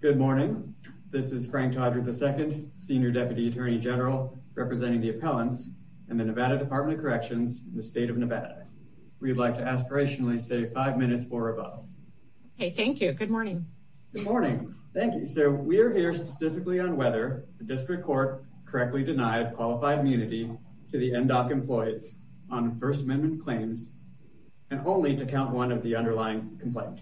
Good morning. This is Frank Todrick II, Senior Deputy Attorney General, representing the Appellants and the Nevada Department of Corrections in the state of Nevada. We'd like to aspirationally say five minutes or above. Hey, thank you. Good morning. Good morning. Thank you. So we're here specifically on whether the District Court correctly denied qualified immunity to the MDOC employees on First Amendment claims and only to count one of the underlying complaint.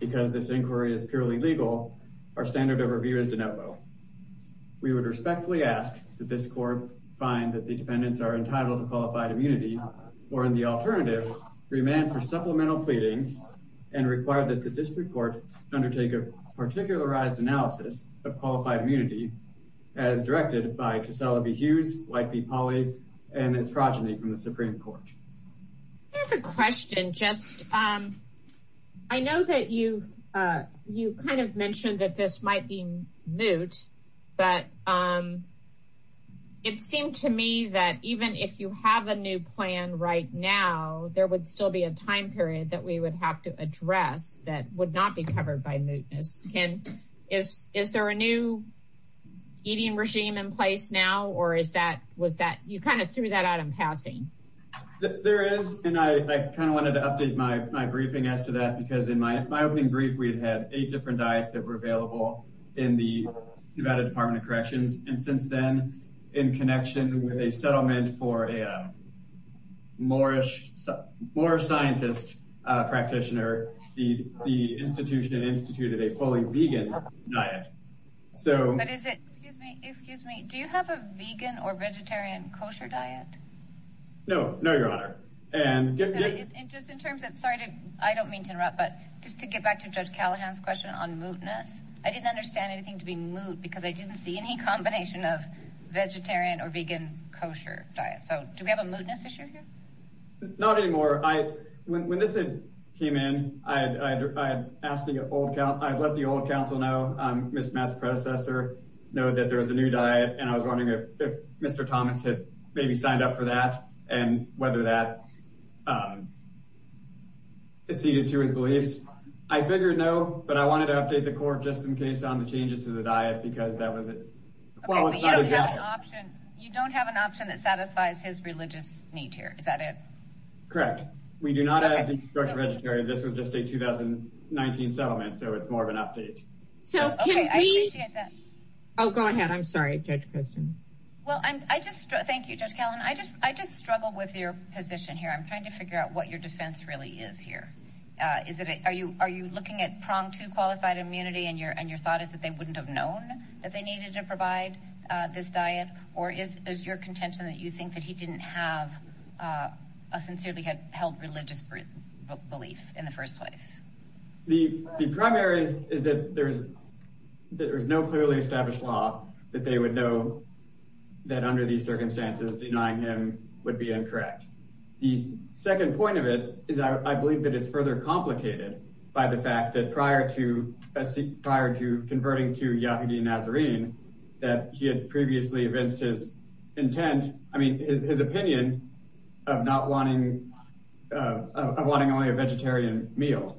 Because this inquiry is purely legal, our standard of review is de novo. We would respectfully ask that this court find that the dependents are entitled to qualified immunity or in the alternative, remand for supplemental pleadings and require that the District Court undertake a particularized analysis of qualified immunity as directed by Casella B. Hughes, White v. Pauley, and its progeny from the Supreme Court. I have a question. I know that you kind of mentioned that this might be moot, but it seemed to me that even if you have a new plan right now, there would still be a time period that we would have to address that would not be covered by mootness. Is there a new eating regime in place now, or is that, was that, you kind of threw that out in passing? There is, and I kind of wanted to update my briefing as to that, because in my opening brief, we had had eight different diets that were available in the Nevada Department of Corrections. And since then, in connection with a settlement for a more scientist practitioner, the institution instituted a fully vegan diet. But is it, excuse me, do you have a vegan or vegetarian kosher diet? No, no, Your Honor. And just in terms of, sorry, I don't mean to interrupt, but just to get back to Judge Callahan's question on mootness, I didn't understand anything to be moot because I didn't see any combination of vegetarian or vegan kosher diet. So do we have a mootness issue here? Not anymore. When this came in, I had asked the old, I had let the old counsel know, Ms. Matt's predecessor, know that there was a new diet. And I was wondering if Mr. Thomas had maybe signed up for that and whether that acceded to his beliefs. I figured no, but I wanted to update the court just in case on the changes to the diet, because that was it. Well, you don't have an option. You don't have an option that satisfies his religious need here. Is that it? Correct. We do not have the vegetarian. This was just a 2019 settlement. So it's more of an update. So I appreciate that. Oh, go ahead. I'm sorry, Judge Christian. Well, I just thank you, Judge Callahan. I just I just struggle with your position here. I'm trying to figure out what your defense really is here. Is it are you are you looking at pronged to qualified immunity? And your and your thought is that they wouldn't have known that they needed to provide this diet or is your contention that you think that he didn't have a sincerely held religious belief in the first place? The primary is that there is that there is no clearly established law that they would know that under these circumstances, denying him would be incorrect. The second point of it is I believe that it's further complicated by the fact that prior to prior to converting to Yahudi Nazarene, that he had previously evinced his intent. I mean, his opinion of not wanting of wanting only a vegetarian meal.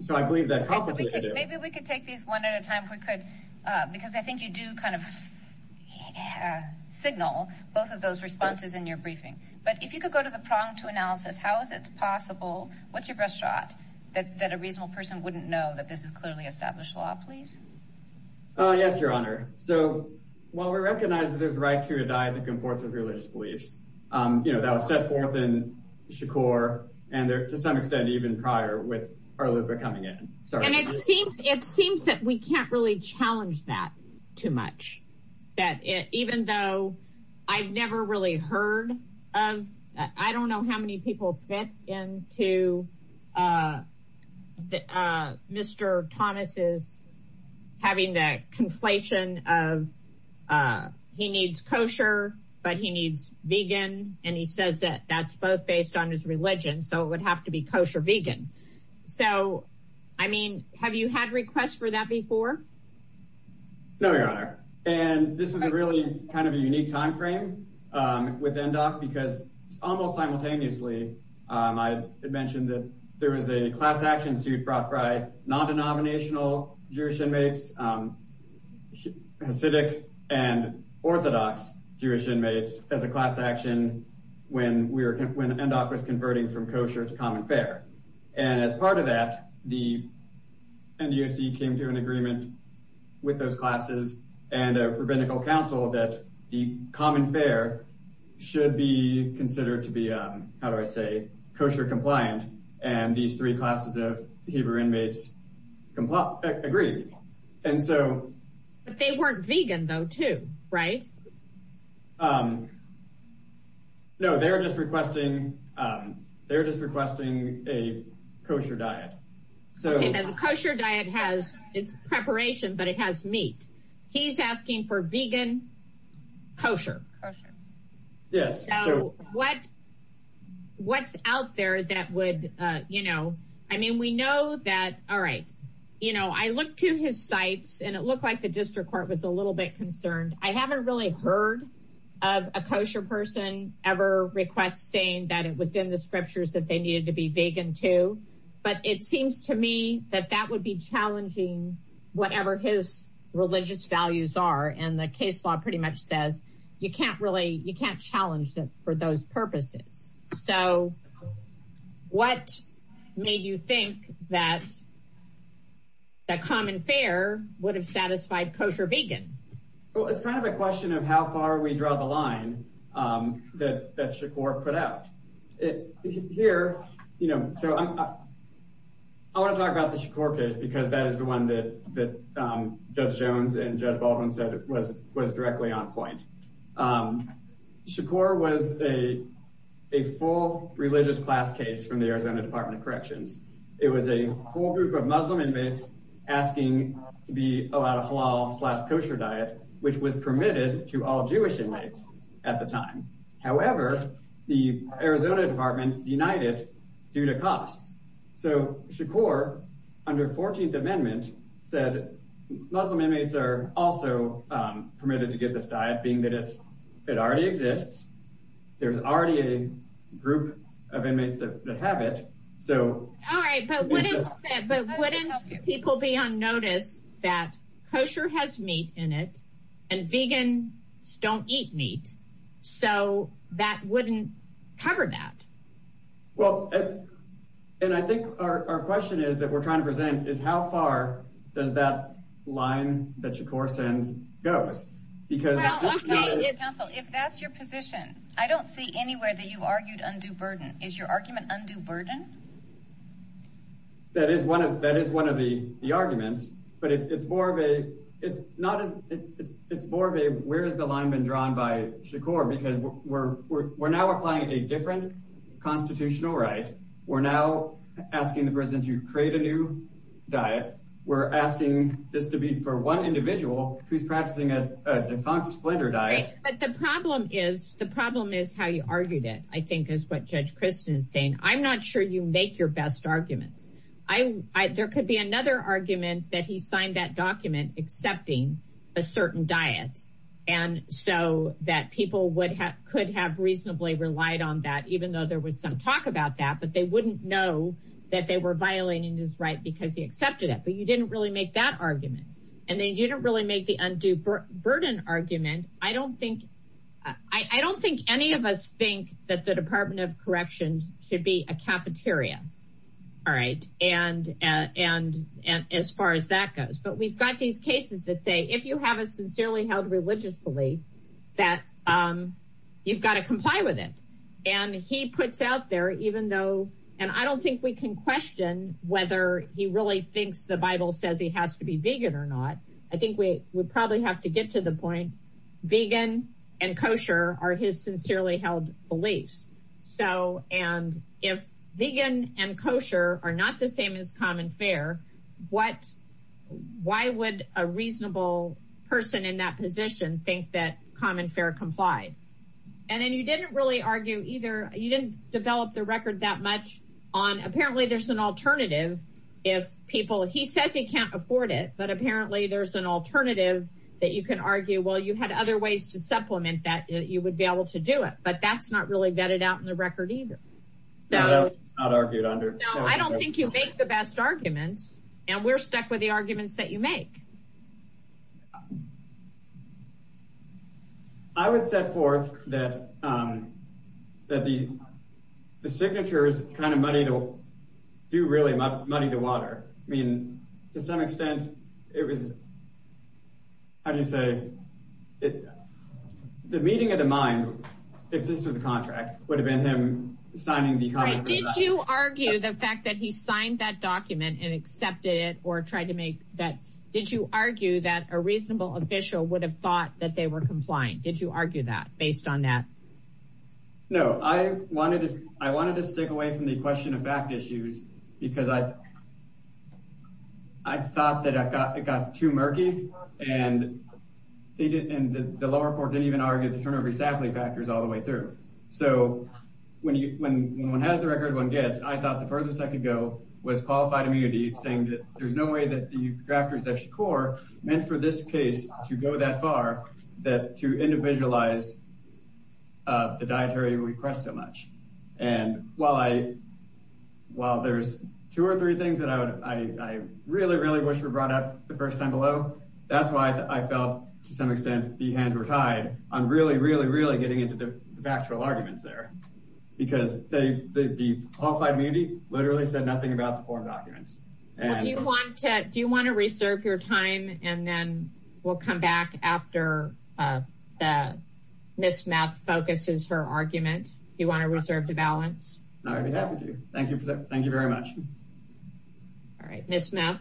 So I believe that maybe we could take these one at a time. We could because I think you do kind of signal both of those responses in your briefing. But if you could go to the prong to analysis, how is it possible? What's your best shot that a reasonable person wouldn't know that this is clearly established law, please? Yes, your honor. So while we recognize that there's right to a diet that comports of religious beliefs that was set forth in Shakur and to some extent even prior with coming in. And it seems it seems that we can't really challenge that too much, that it even though I've never really heard of, I don't know how many people fit in to Mr. Thomas's having that conflation of he needs kosher, but he needs vegan. And he says that that's both based on his religion. So it would have to be kosher vegan. So, I mean, have you had requests for that before? No, your honor, and this is a really kind of a unique time frame with Endok because almost simultaneously, I had mentioned that there was a class action suit brought by non-denominational Jewish inmates, Hasidic and Orthodox Jewish inmates as a class action when we were when Endok was converting from kosher to common fare. And as part of that, the NDOC came to an agreement with those classes and a rabbinical council that the common fare should be considered to be, how do I say, kosher compliant. And these three classes of Hebrew inmates agreed. And so they weren't vegan, though, too, right? No, they're just requesting they're just requesting a kosher diet, so kosher diet has its preparation, but it has meat. He's asking for vegan kosher. Yes. What what's out there that would, you know, I mean, we know that. All right. You know, I look to his sites and it looked like the district court was a little bit concerned. I haven't really heard of a kosher person. Ever request saying that it was in the scriptures that they needed to be vegan, too. But it seems to me that that would be challenging whatever his religious values are. And the case law pretty much says you can't really you can't challenge that for those purposes. So what made you think that. That common fare would have satisfied kosher vegan, well, it's kind of a question of how far we draw the line that that Chakor put out it here. You know, so I want to talk about the Chakor case because that is the one that Judge Jones and Judge Baldwin said was was directly on point. Chakor was a a full religious class case from the Arizona Department of Corrections. It was a whole group of Muslim inmates asking to be allowed a halal slash kosher diet, which was permitted to all Jewish inmates at the time. However, the Arizona Department denied it due to costs. So Chakor, under 14th Amendment, said Muslim inmates are also permitted to get this diet, being that it's it already exists. There's already a group of inmates that have it. All right, but wouldn't people be on notice that kosher has meat in it and vegans don't eat meat? So that wouldn't cover that. Well, and I think our question is that we're trying to present is how far does that line that Chakor sends goes? Because if that's your position, I don't see anywhere that you argued undue burden. Is your argument undue burden? That is one of that is one of the arguments, but it's more of a it's not it's it's more of a where is the line been drawn by Chakor? Because we're we're now applying a different constitutional right. We're now asking the president to create a new diet. We're asking this to be for one individual who's practicing a defunct splinter diet. But the problem is the problem is how you argued it, I think, is what Judge Kristen is saying. I'm not sure you make your best arguments. I there could be another argument that he signed that document accepting a certain diet and so that people would have could have reasonably relied on that, even though there was some talk about that, but they wouldn't know that they were violating his right because he accepted it. But you didn't really make that argument and they didn't really make the undue burden argument. I don't think I don't think any of us think that the Department of Corrections should be a cafeteria. All right. And and and as far as that goes, but we've got these cases that say if you have a sincerely held religious belief that you've got to comply with it. And he puts out there, even though and I don't think we can question whether he really thinks the Bible says he has to be vegan or not. I think we would probably have to get to the point vegan and kosher are his sincerely held beliefs. So and if vegan and kosher are not the same as common fair, what why would a reasonable person in that position think that common fair complied? And then you didn't really argue either. You didn't develop the record that much on. Apparently there's an alternative if people he says he can't afford it. But apparently there's an alternative that you can argue, well, you had other ways to supplement that you would be able to do it. But that's not really vetted out in the record either. That's not argued under. I don't think you make the best arguments and we're stuck with the arguments that you make. I would set forth that that the the signature is kind of money to do really money to water. I mean, to some extent it was. How do you say it? The meeting of the mind, if this was a contract, would have been him signing the contract. Did you argue the fact that he signed that document and accepted it or tried to make that? Did you argue that a reasonable official would have thought that they were complying? Did you argue that based on that? No, I wanted to I wanted to stick away from the question of fact issues because I. I thought that I got it got too murky and they did and the law report didn't even argue the turnover sadly factors all the way through. So when you when one has the record one gets, I thought the furthest I could go was qualified immunity, saying that there's no way that the drafters that core meant for this case to go that far that to individualize the dietary request so much. And while I while there's two or three things that I would I really, really wish were brought up the first time below. That's why I felt to some extent the hands were tied on really, really, really getting into the factual arguments there because they the qualified immunity literally said nothing about the form documents. Do you want to do you want to reserve your time and then we'll come back after that. Miss Math focuses her argument. You want to reserve the balance. I'd be happy to. Thank you. Thank you very much. All right. Miss Math.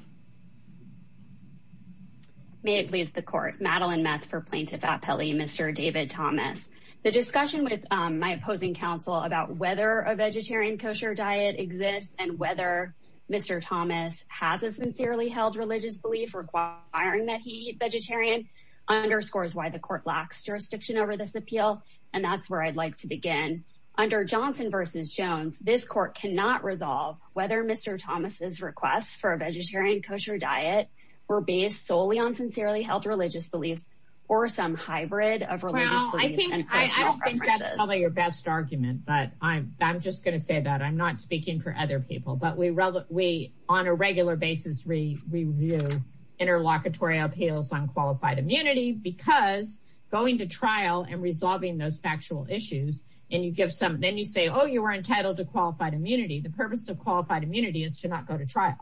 May it please the court, Madeline Math for plaintiff at Pele, Mr. David Thomas, the discussion with my opposing counsel about whether a vegetarian kosher diet exists and whether Mr. Thomas has a sincerely held religious belief requiring that he vegetarian underscores why the court lacks jurisdiction over this appeal. And that's where I'd like to begin under Johnson versus Jones. This court cannot resolve whether Mr. Thomas's requests for a vegetarian kosher diet were based solely on sincerely held religious beliefs or some hybrid of religious beliefs and I think that's probably your best argument. But I'm just going to say that. I'm not speaking for other people, but we we on a regular basis review interlocutory appeals on qualified immunity because going to trial and resolving those factual issues and you give some then you say, oh, you are entitled to qualified immunity. The purpose of qualified immunity is to not go to trial.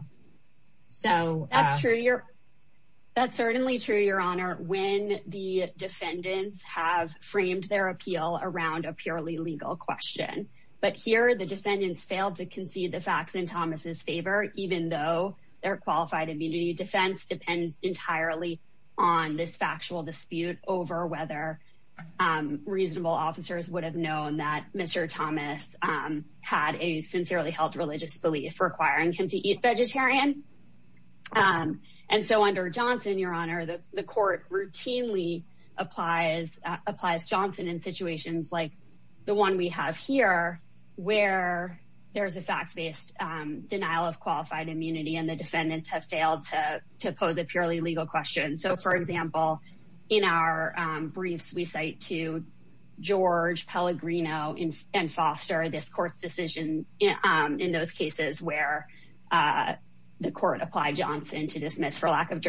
So that's true. That's certainly true, Your Honor. When the defendants have framed their appeal around a purely legal question. But here the defendants failed to concede the facts in Thomas's favor, even though their qualified immunity defense depends entirely on this factual dispute over whether reasonable officers would have known that Mr. Thomas had a sincerely held religious belief requiring him to eat vegetarian. And so under Johnson, Your Honor, the court routinely applies applies Johnson in situations like the one we have here where there is a fact based denial of qualified immunity and the defendants have failed to pose a purely legal question. So, for example, in our briefs, we cite to George Pellegrino and Foster, this court's decision in those cases where the court applied Johnson to dismiss for lack of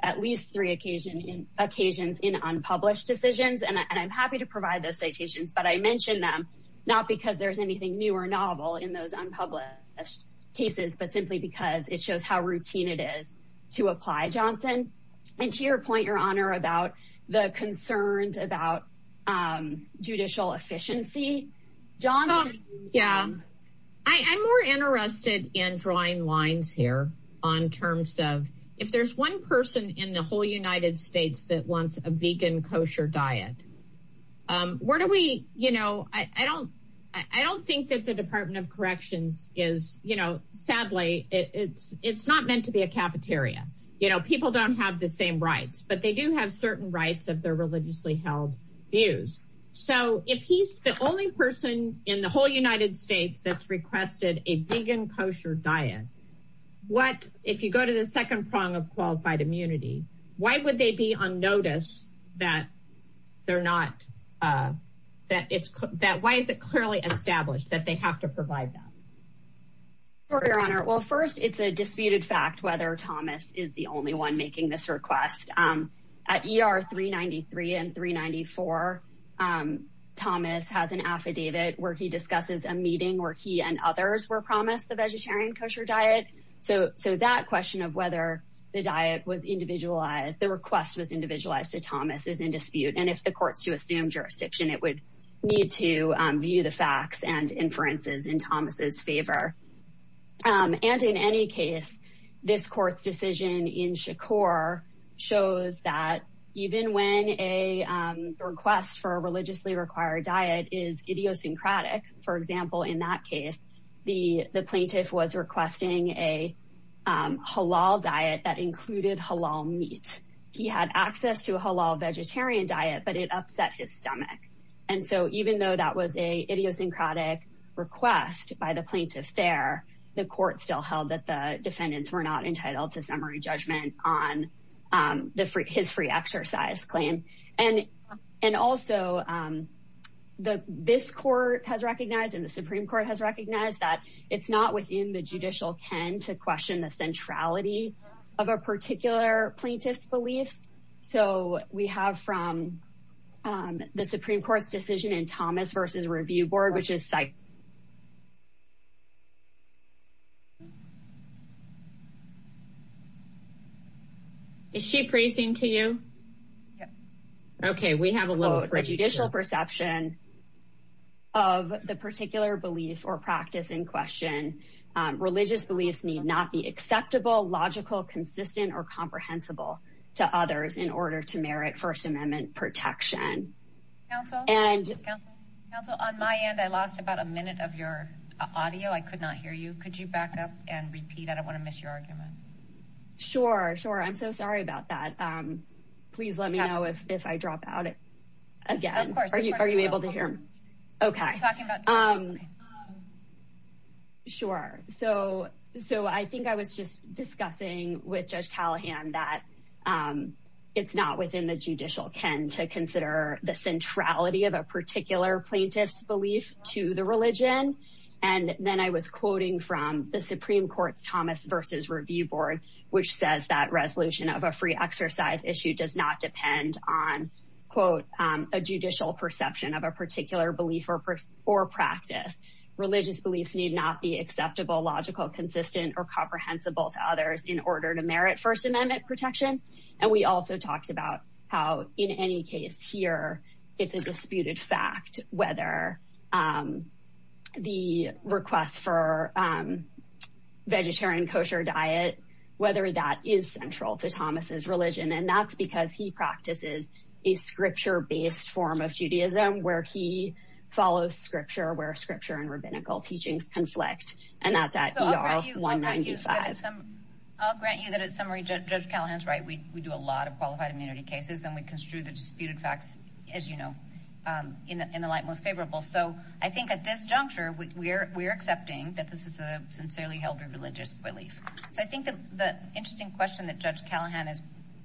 at least three occasion in occasions in unpublished decisions. And I'm happy to provide those citations, but I mentioned them not because there's anything new or novel in those unpublished cases, but simply because it shows how routine it is to apply Johnson. And to your point, Your Honor, about the concerns about judicial efficiency, Johnson. Yeah, I'm more interested in drawing lines here on terms of if there's one person in the whole United States that wants a vegan kosher diet, where do we you know, I don't I don't think that the Department of Corrections is, you know, sadly, it's not meant to be a cafeteria. You know, people don't have the same rights, but they do have certain rights of their religiously held views. So if he's the only person in the whole United States that's requested a vegan kosher diet, what if you go to the second prong of qualified immunity, why would they be on notice that they're not that it's that why is it clearly established that they have to provide that? For your honor, well, first, it's a disputed fact whether Thomas is the only one making this request at ER 393 and 394. Thomas has an affidavit where he discusses a meeting where he and others were promised the vegetarian kosher diet. So so that question of whether the diet was individualized, the request was individualized to Thomas is in dispute. And if the courts to assume jurisdiction, it would need to view the facts and inferences in Thomas's favor. And in any case, this court's decision in Shakur shows that even when a request for a was requesting a halal diet that included halal meat, he had access to a halal vegetarian diet, but it upset his stomach. And so even though that was a idiosyncratic request by the plaintiff there, the court still held that the defendants were not entitled to summary judgment on his free exercise claim. And and also the this court has recognized and the Supreme Court has recognized that it's not within the judicial ken to question the centrality of a particular plaintiff's beliefs. So we have from the Supreme Court's decision in Thomas versus review board, which is site. Is she freezing to you? OK, we have a little judicial perception. Of the particular belief or practice in question, religious beliefs need not be acceptable, logical, consistent or comprehensible to others in order to merit First Amendment protection and counsel on my end, I lost about a minute of your audio. I could not hear you. Could you back up and repeat? I don't want to miss your argument. Sure, sure. I'm so sorry about that. Please let me know if if I drop out again, are you are you able to hear me? OK, I'm talking about. Sure, so so I think I was just discussing with Judge Callahan that it's not within the judicial ken to consider the centrality of a particular plaintiff's belief to the religion. And then I was quoting from the Supreme Court's Thomas versus review board, which says that resolution of a free exercise issue does not depend on, quote, a judicial perception of a particular belief or or practice. Religious beliefs need not be acceptable, logical, consistent or comprehensible to others in order to merit First Amendment protection. And we also talked about how in any case here it's a disputed fact whether the request for vegetarian kosher diet, whether that is central to Thomas's religion. And that's because he practices a scripture based form of Judaism where he follows scripture, where scripture and rabbinical teachings conflict. And that's at one ninety five. I'll grant you that at summary, Judge Callahan's right. We do a lot of qualified immunity cases and we construe the disputed facts, as you know, in the light most favorable. So I think at this juncture, we're accepting that this is a sincerely held religious belief. So I think that the interesting question that Judge Callahan is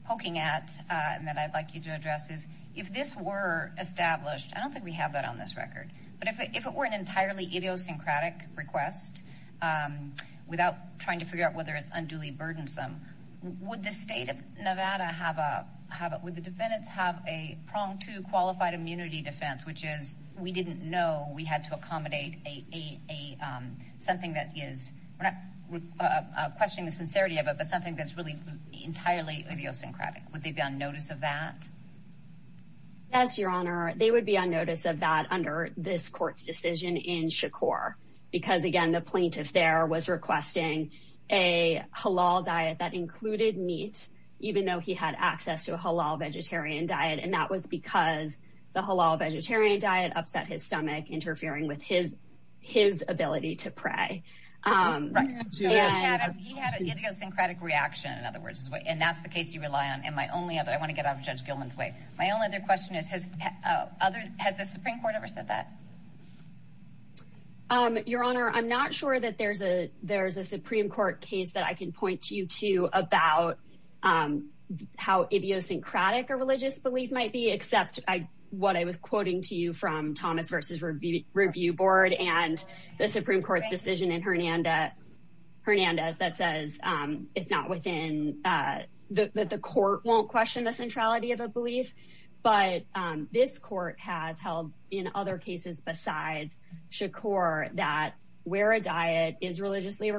poking at and that I'd like you to address is if this were established, I don't think we have that on this record. But if it were an entirely idiosyncratic request without trying to figure out whether it's unduly burdensome, would the state of Nevada have a would the know we had to accommodate a something that is we're not questioning the sincerity of it, but something that's really entirely idiosyncratic? Would they be on notice of that? As your honor, they would be on notice of that under this court's decision in Shakur, because, again, the plaintiff there was requesting a halal diet that included meat, even though he had access to a halal vegetarian diet. And that was because the halal vegetarian diet upset his stomach, interfering with his his ability to pray. He had an idiosyncratic reaction, in other words, and that's the case you rely on. And my only other I want to get out of Judge Gilman's way. My only other question is, has other has the Supreme Court ever said that? Your honor, I'm not sure that there's a there's a Supreme Court case that I can point you about how idiosyncratic a religious belief might be, except what I was quoting to you from Thomas versus review board and the Supreme Court's decision in Hernandez that says it's not within that the court won't question the centrality of a belief. But this court has held in other cases besides Shakur that where a diet is religiously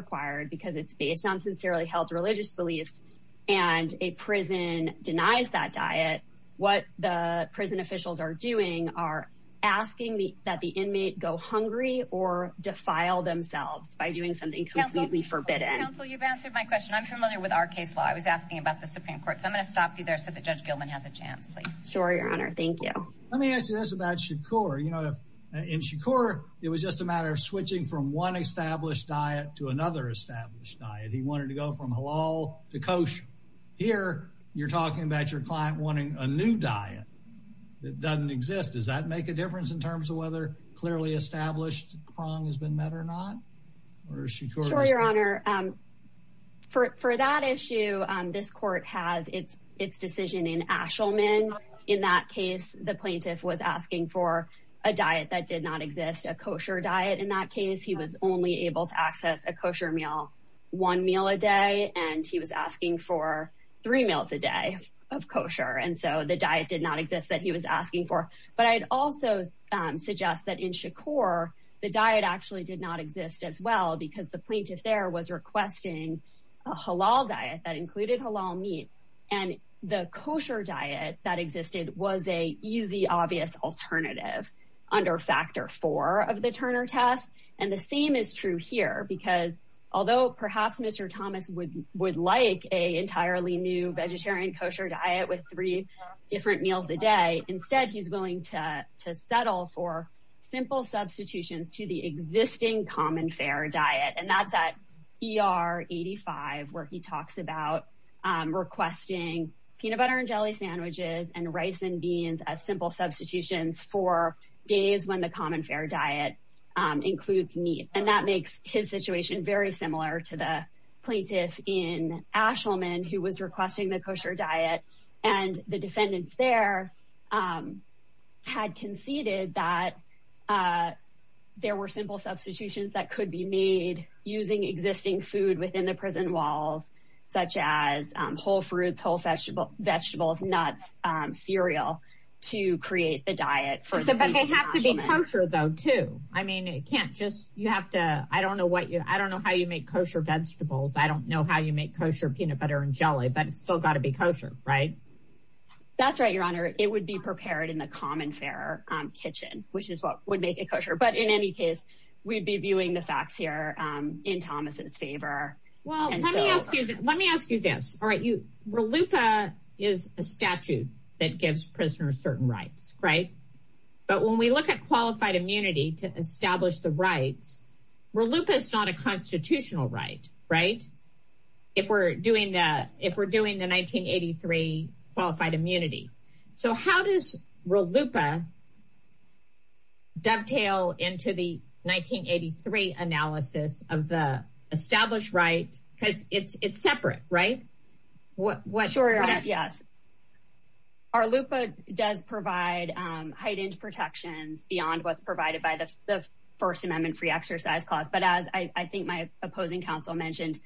beliefs and a prison denies that diet, what the prison officials are doing are asking that the inmate go hungry or defile themselves by doing something completely forbidden. Counsel, you've answered my question. I'm familiar with our case law. I was asking about the Supreme Court. So I'm going to stop you there so that Judge Gilman has a chance. Please. Sure, your honor. Thank you. Let me ask you this about Shakur. You know, if in Shakur, it was just a matter of switching from one established diet to another established diet. He wanted to go from halal to kosher. Here you're talking about your client wanting a new diet that doesn't exist. Does that make a difference in terms of whether clearly established prong has been met or not? Or is Shakur? Sure, your honor. For that issue, this court has its its decision in Ashelman. In that case, the plaintiff was asking for a diet that did not exist, a kosher diet. In that case, he was only able to access a kosher meal, one meal a day. And he was asking for three meals a day of kosher. And so the diet did not exist that he was asking for. But I'd also suggest that in Shakur, the diet actually did not exist as well because the plaintiff there was requesting a halal diet that included halal meat. And the kosher diet that existed was a easy, obvious alternative under factor four of the US. And the same is true here, because although perhaps Mr. Thomas would would like a entirely new vegetarian kosher diet with three different meals a day, instead, he's willing to to settle for simple substitutions to the existing common fair diet. And that's at E.R. 85, where he talks about requesting peanut butter and jelly sandwiches and rice and beans as simple substitutions for days when the common fair diet includes meat. And that makes his situation very similar to the plaintiff in Ashelman, who was requesting the kosher diet. And the defendants there had conceded that there were simple substitutions that could be made using existing food within the prison walls, such as whole fruits, whole vegetable, vegetables, nuts, cereal to create the diet for them. But they have to be kosher, though, too. I mean, it can't just you have to I don't know what you I don't know how you make kosher vegetables. I don't know how you make kosher peanut butter and jelly, but it's still got to be kosher, right? That's right, Your Honor, it would be prepared in the common fair kitchen, which is what would make it kosher. But in any case, we'd be viewing the facts here in Thomas's favor. Well, let me ask you, let me ask you this. All right. You, RLUIPA is a statute that gives prisoners certain rights, right? But when we look at qualified immunity to establish the rights, RLUIPA is not a constitutional right, right? If we're doing that, if we're doing the 1983 qualified immunity. So how does RLUIPA dovetail into the 1983 analysis of the established right? Because it's separate, right? What sure. Yes. RLUIPA does provide heightened protections beyond what's provided by the First Amendment free exercise clause. But as I think my opposing counsel mentioned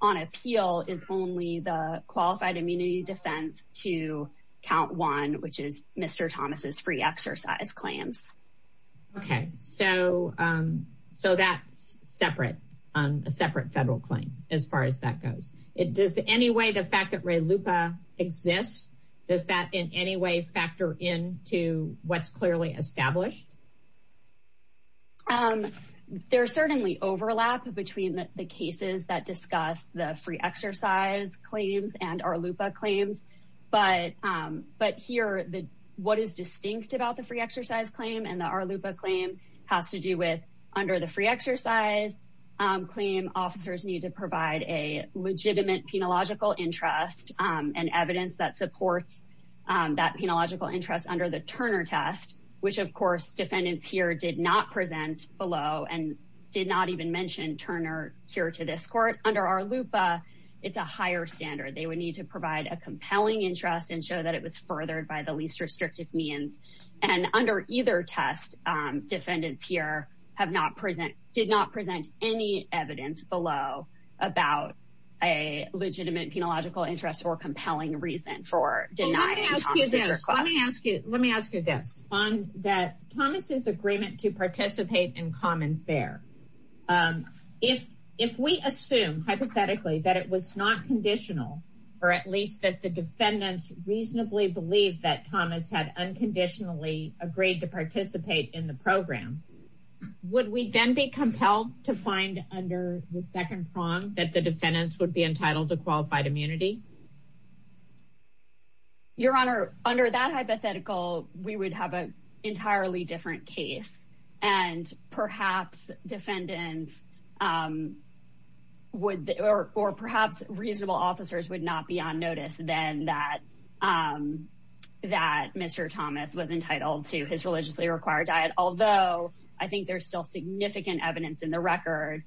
on appeal is only the qualified immunity defense to count one, which is Mr. Thomas's free exercise claims. OK, so so that's separate, a separate federal claim as far as that goes. It does any way the fact that RLUIPA exists, does that in any way factor into what's clearly established? There's certainly overlap between the cases that discuss the free exercise claims and RLUIPA claims. But but here, what is distinct about the free exercise claim and the RLUIPA claim has to do with under the free exercise claim, officers need to provide a legitimate penological interest and evidence that supports that penological interest under the Turner test, which, of course, defendants here did not present below and did not even mention Turner here to this court. Under RLUIPA, it's a higher standard. They would need to provide a compelling interest and show that it was furthered by the least restrictive means. And under either test, defendants here have not present, did not present any evidence below about a legitimate penological interest or compelling reason for denying Thomas's request. Let me ask you this on that Thomas's agreement to participate in common fair. If if we assume hypothetically that it was not conditional or at least that the defendants reasonably believe that Thomas had unconditionally agreed to participate in the program, would we then be compelled to find under the second prong that the defendants would be entitled to qualified immunity? Your Honor, under that hypothetical, we would have an entirely different case and perhaps defendants would or perhaps reasonable officers would not be on notice then that that Mr. Thomas was entitled to his religiously required diet. Although I think there's still significant evidence in the record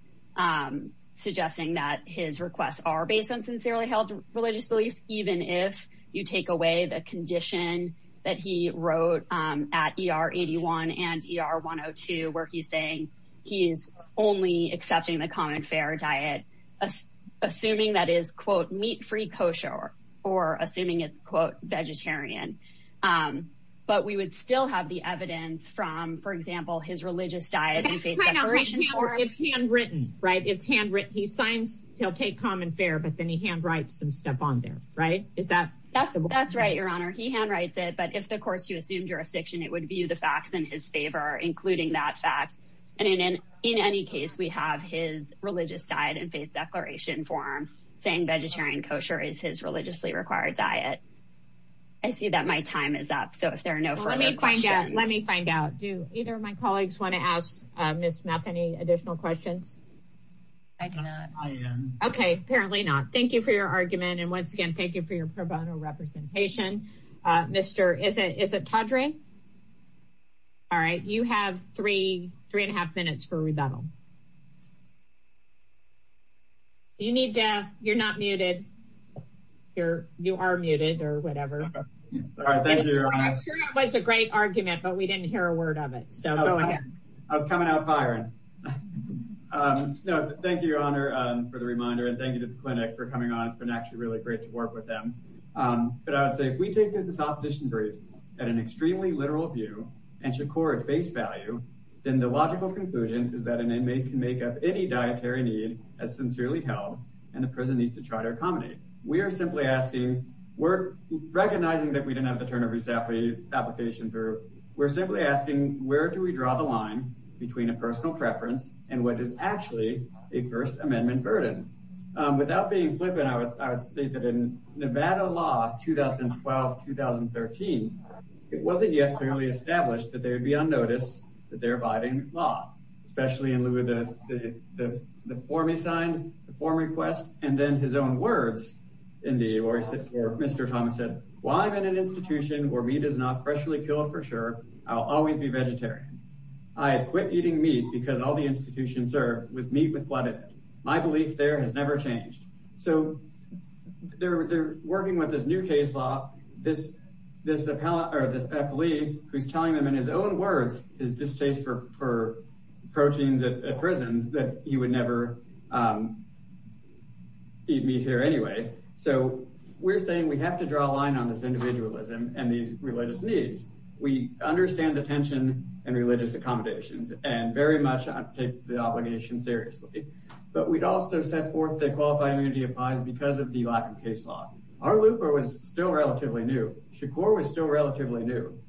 suggesting that his requests are based on sincerely held religious beliefs, even if you take away the saying he is only accepting the common fair diet, assuming that is, quote, meat free kosher or assuming it's, quote, vegetarian. But we would still have the evidence from, for example, his religious diet. It's handwritten, right? It's handwritten. He signs he'll take common fair, but then he handwrites some stuff on there. Right. Is that that's that's right. Your Honor, he handwrites it. But if the courts to assume jurisdiction, it would be the facts in his favor, including that fact. And in in any case, we have his religious diet and faith declaration form saying vegetarian kosher is his religiously required diet. I see that my time is up, so if there are no further questions, let me find out, do either of my colleagues want to ask Ms. Methany additional questions? I can. I am OK. Apparently not. Thank you for your argument. And once again, thank you for your pro bono representation, Mr. Is it is it Todrick? OK. All right. You have three, three and a half minutes for rebuttal. You need to you're not muted, you're you are muted or whatever. All right. Thank you. It was a great argument, but we didn't hear a word of it. So I was coming out firing. Thank you, Your Honor, for the reminder and thank you to the clinic for coming on. It's been actually really great to work with them. But I would say if we take this opposition brief at an extremely literal view and should core its base value, then the logical conclusion is that an inmate can make up any dietary need as sincerely held. And the president needs to try to accommodate. We are simply asking we're recognizing that we didn't have the turn of his applications or we're simply asking where do we draw the line between a personal preference and what is actually a First Amendment burden without being I would say that in Nevada law 2012, 2013, it wasn't yet clearly established that they would be on notice that they're abiding law, especially in lieu of the form he signed, the form request and then his own words in the Mr. Thomas said, while I'm in an institution where meat is not freshly killed, for sure, I'll always be vegetarian. I quit eating meat because all the institutions are with meat with blood. My belief there has never changed. So they're working with this new case law. This this appellate or this appellee who's telling them in his own words is this case for proteins at prisons that you would never eat meat here anyway. So we're saying we have to draw a line on this individualism and these religious needs. We understand the tension and religious accommodations and very much take the obligation seriously. But we'd also set forth the qualified immunity applies because of the lack of case law. Our looper was still relatively new. Shakur was still relatively new.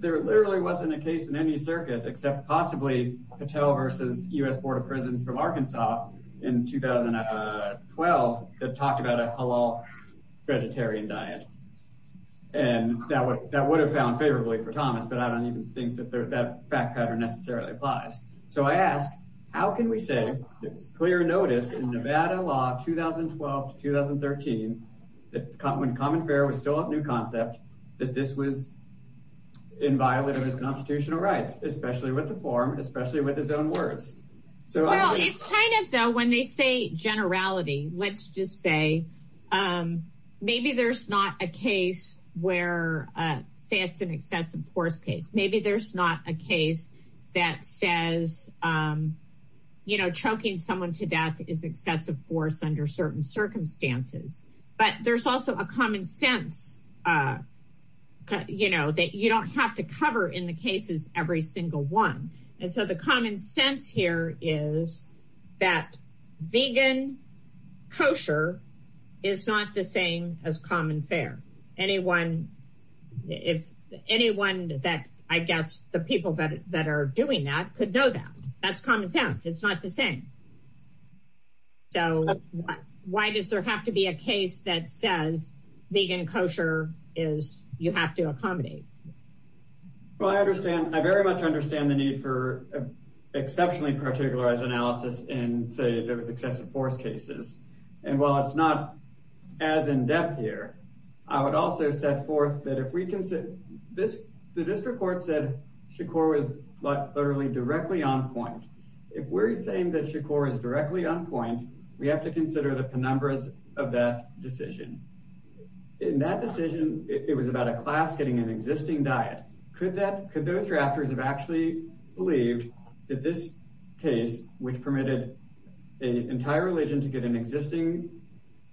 There literally wasn't a case in any circuit except possibly Patel versus U.S. Board of Prisons from Arkansas in 2012 that talked about a halal vegetarian diet. And that would that would have found favorably for Thomas, but I don't even think that that fact pattern necessarily applies. So I ask, how can we say it's clear notice in Nevada law 2012 to 2013 that when common fair was still a new concept, that this was in violation of his constitutional rights, especially with the form, especially with his own words. So it's kind of though when they say generality, let's just say maybe there's not a case where say it's an excessive force case. Maybe there's not a case that says, you know, choking someone to death is excessive force under certain circumstances. But there's also a common sense, you know, that you don't have to cover in the cases every single one. And so the common sense here is that vegan kosher is not the same as common fair. Anyone if anyone that I guess the people that are doing that could know that. That's common sense. It's not the same. So why does there have to be a case that says vegan kosher is you have to accommodate? Well, I understand I very much understand the need for exceptionally particularized analysis and say there was excessive force cases. And while it's not as in-depth here, I would also set forth that if we consider this, that this report said Shakur was literally directly on point. If we're saying that Shakur is directly on point, we have to consider the penumbras of that decision. In that decision, it was about a class getting an existing diet. Could that could those drafters have actually believed that this case, which get an existing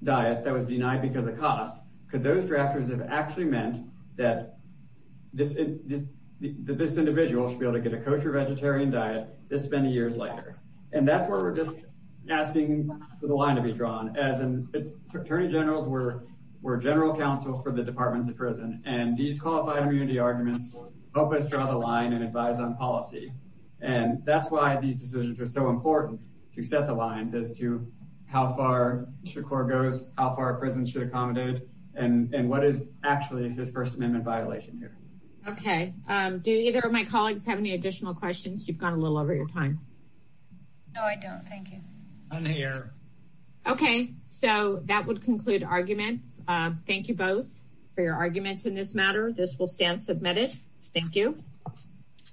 diet that was denied because of costs, could those drafters have actually meant that this individual should be able to get a kosher vegetarian diet this many years later? And that's where we're just asking for the line to be drawn as an attorney general where we're general counsel for the departments of prison. And these qualified immunity arguments help us draw the line and advise on policy. And that's why these decisions are so important to set the lines as to how far Shakur goes, how far a prison should accommodate, and what is actually his First Amendment violation here. Okay. Do either of my colleagues have any additional questions? You've gone a little over your time. No, I don't. Thank you. Okay. So that would conclude arguments. Thank you both for your arguments in this matter. This will stand submitted. Thank you.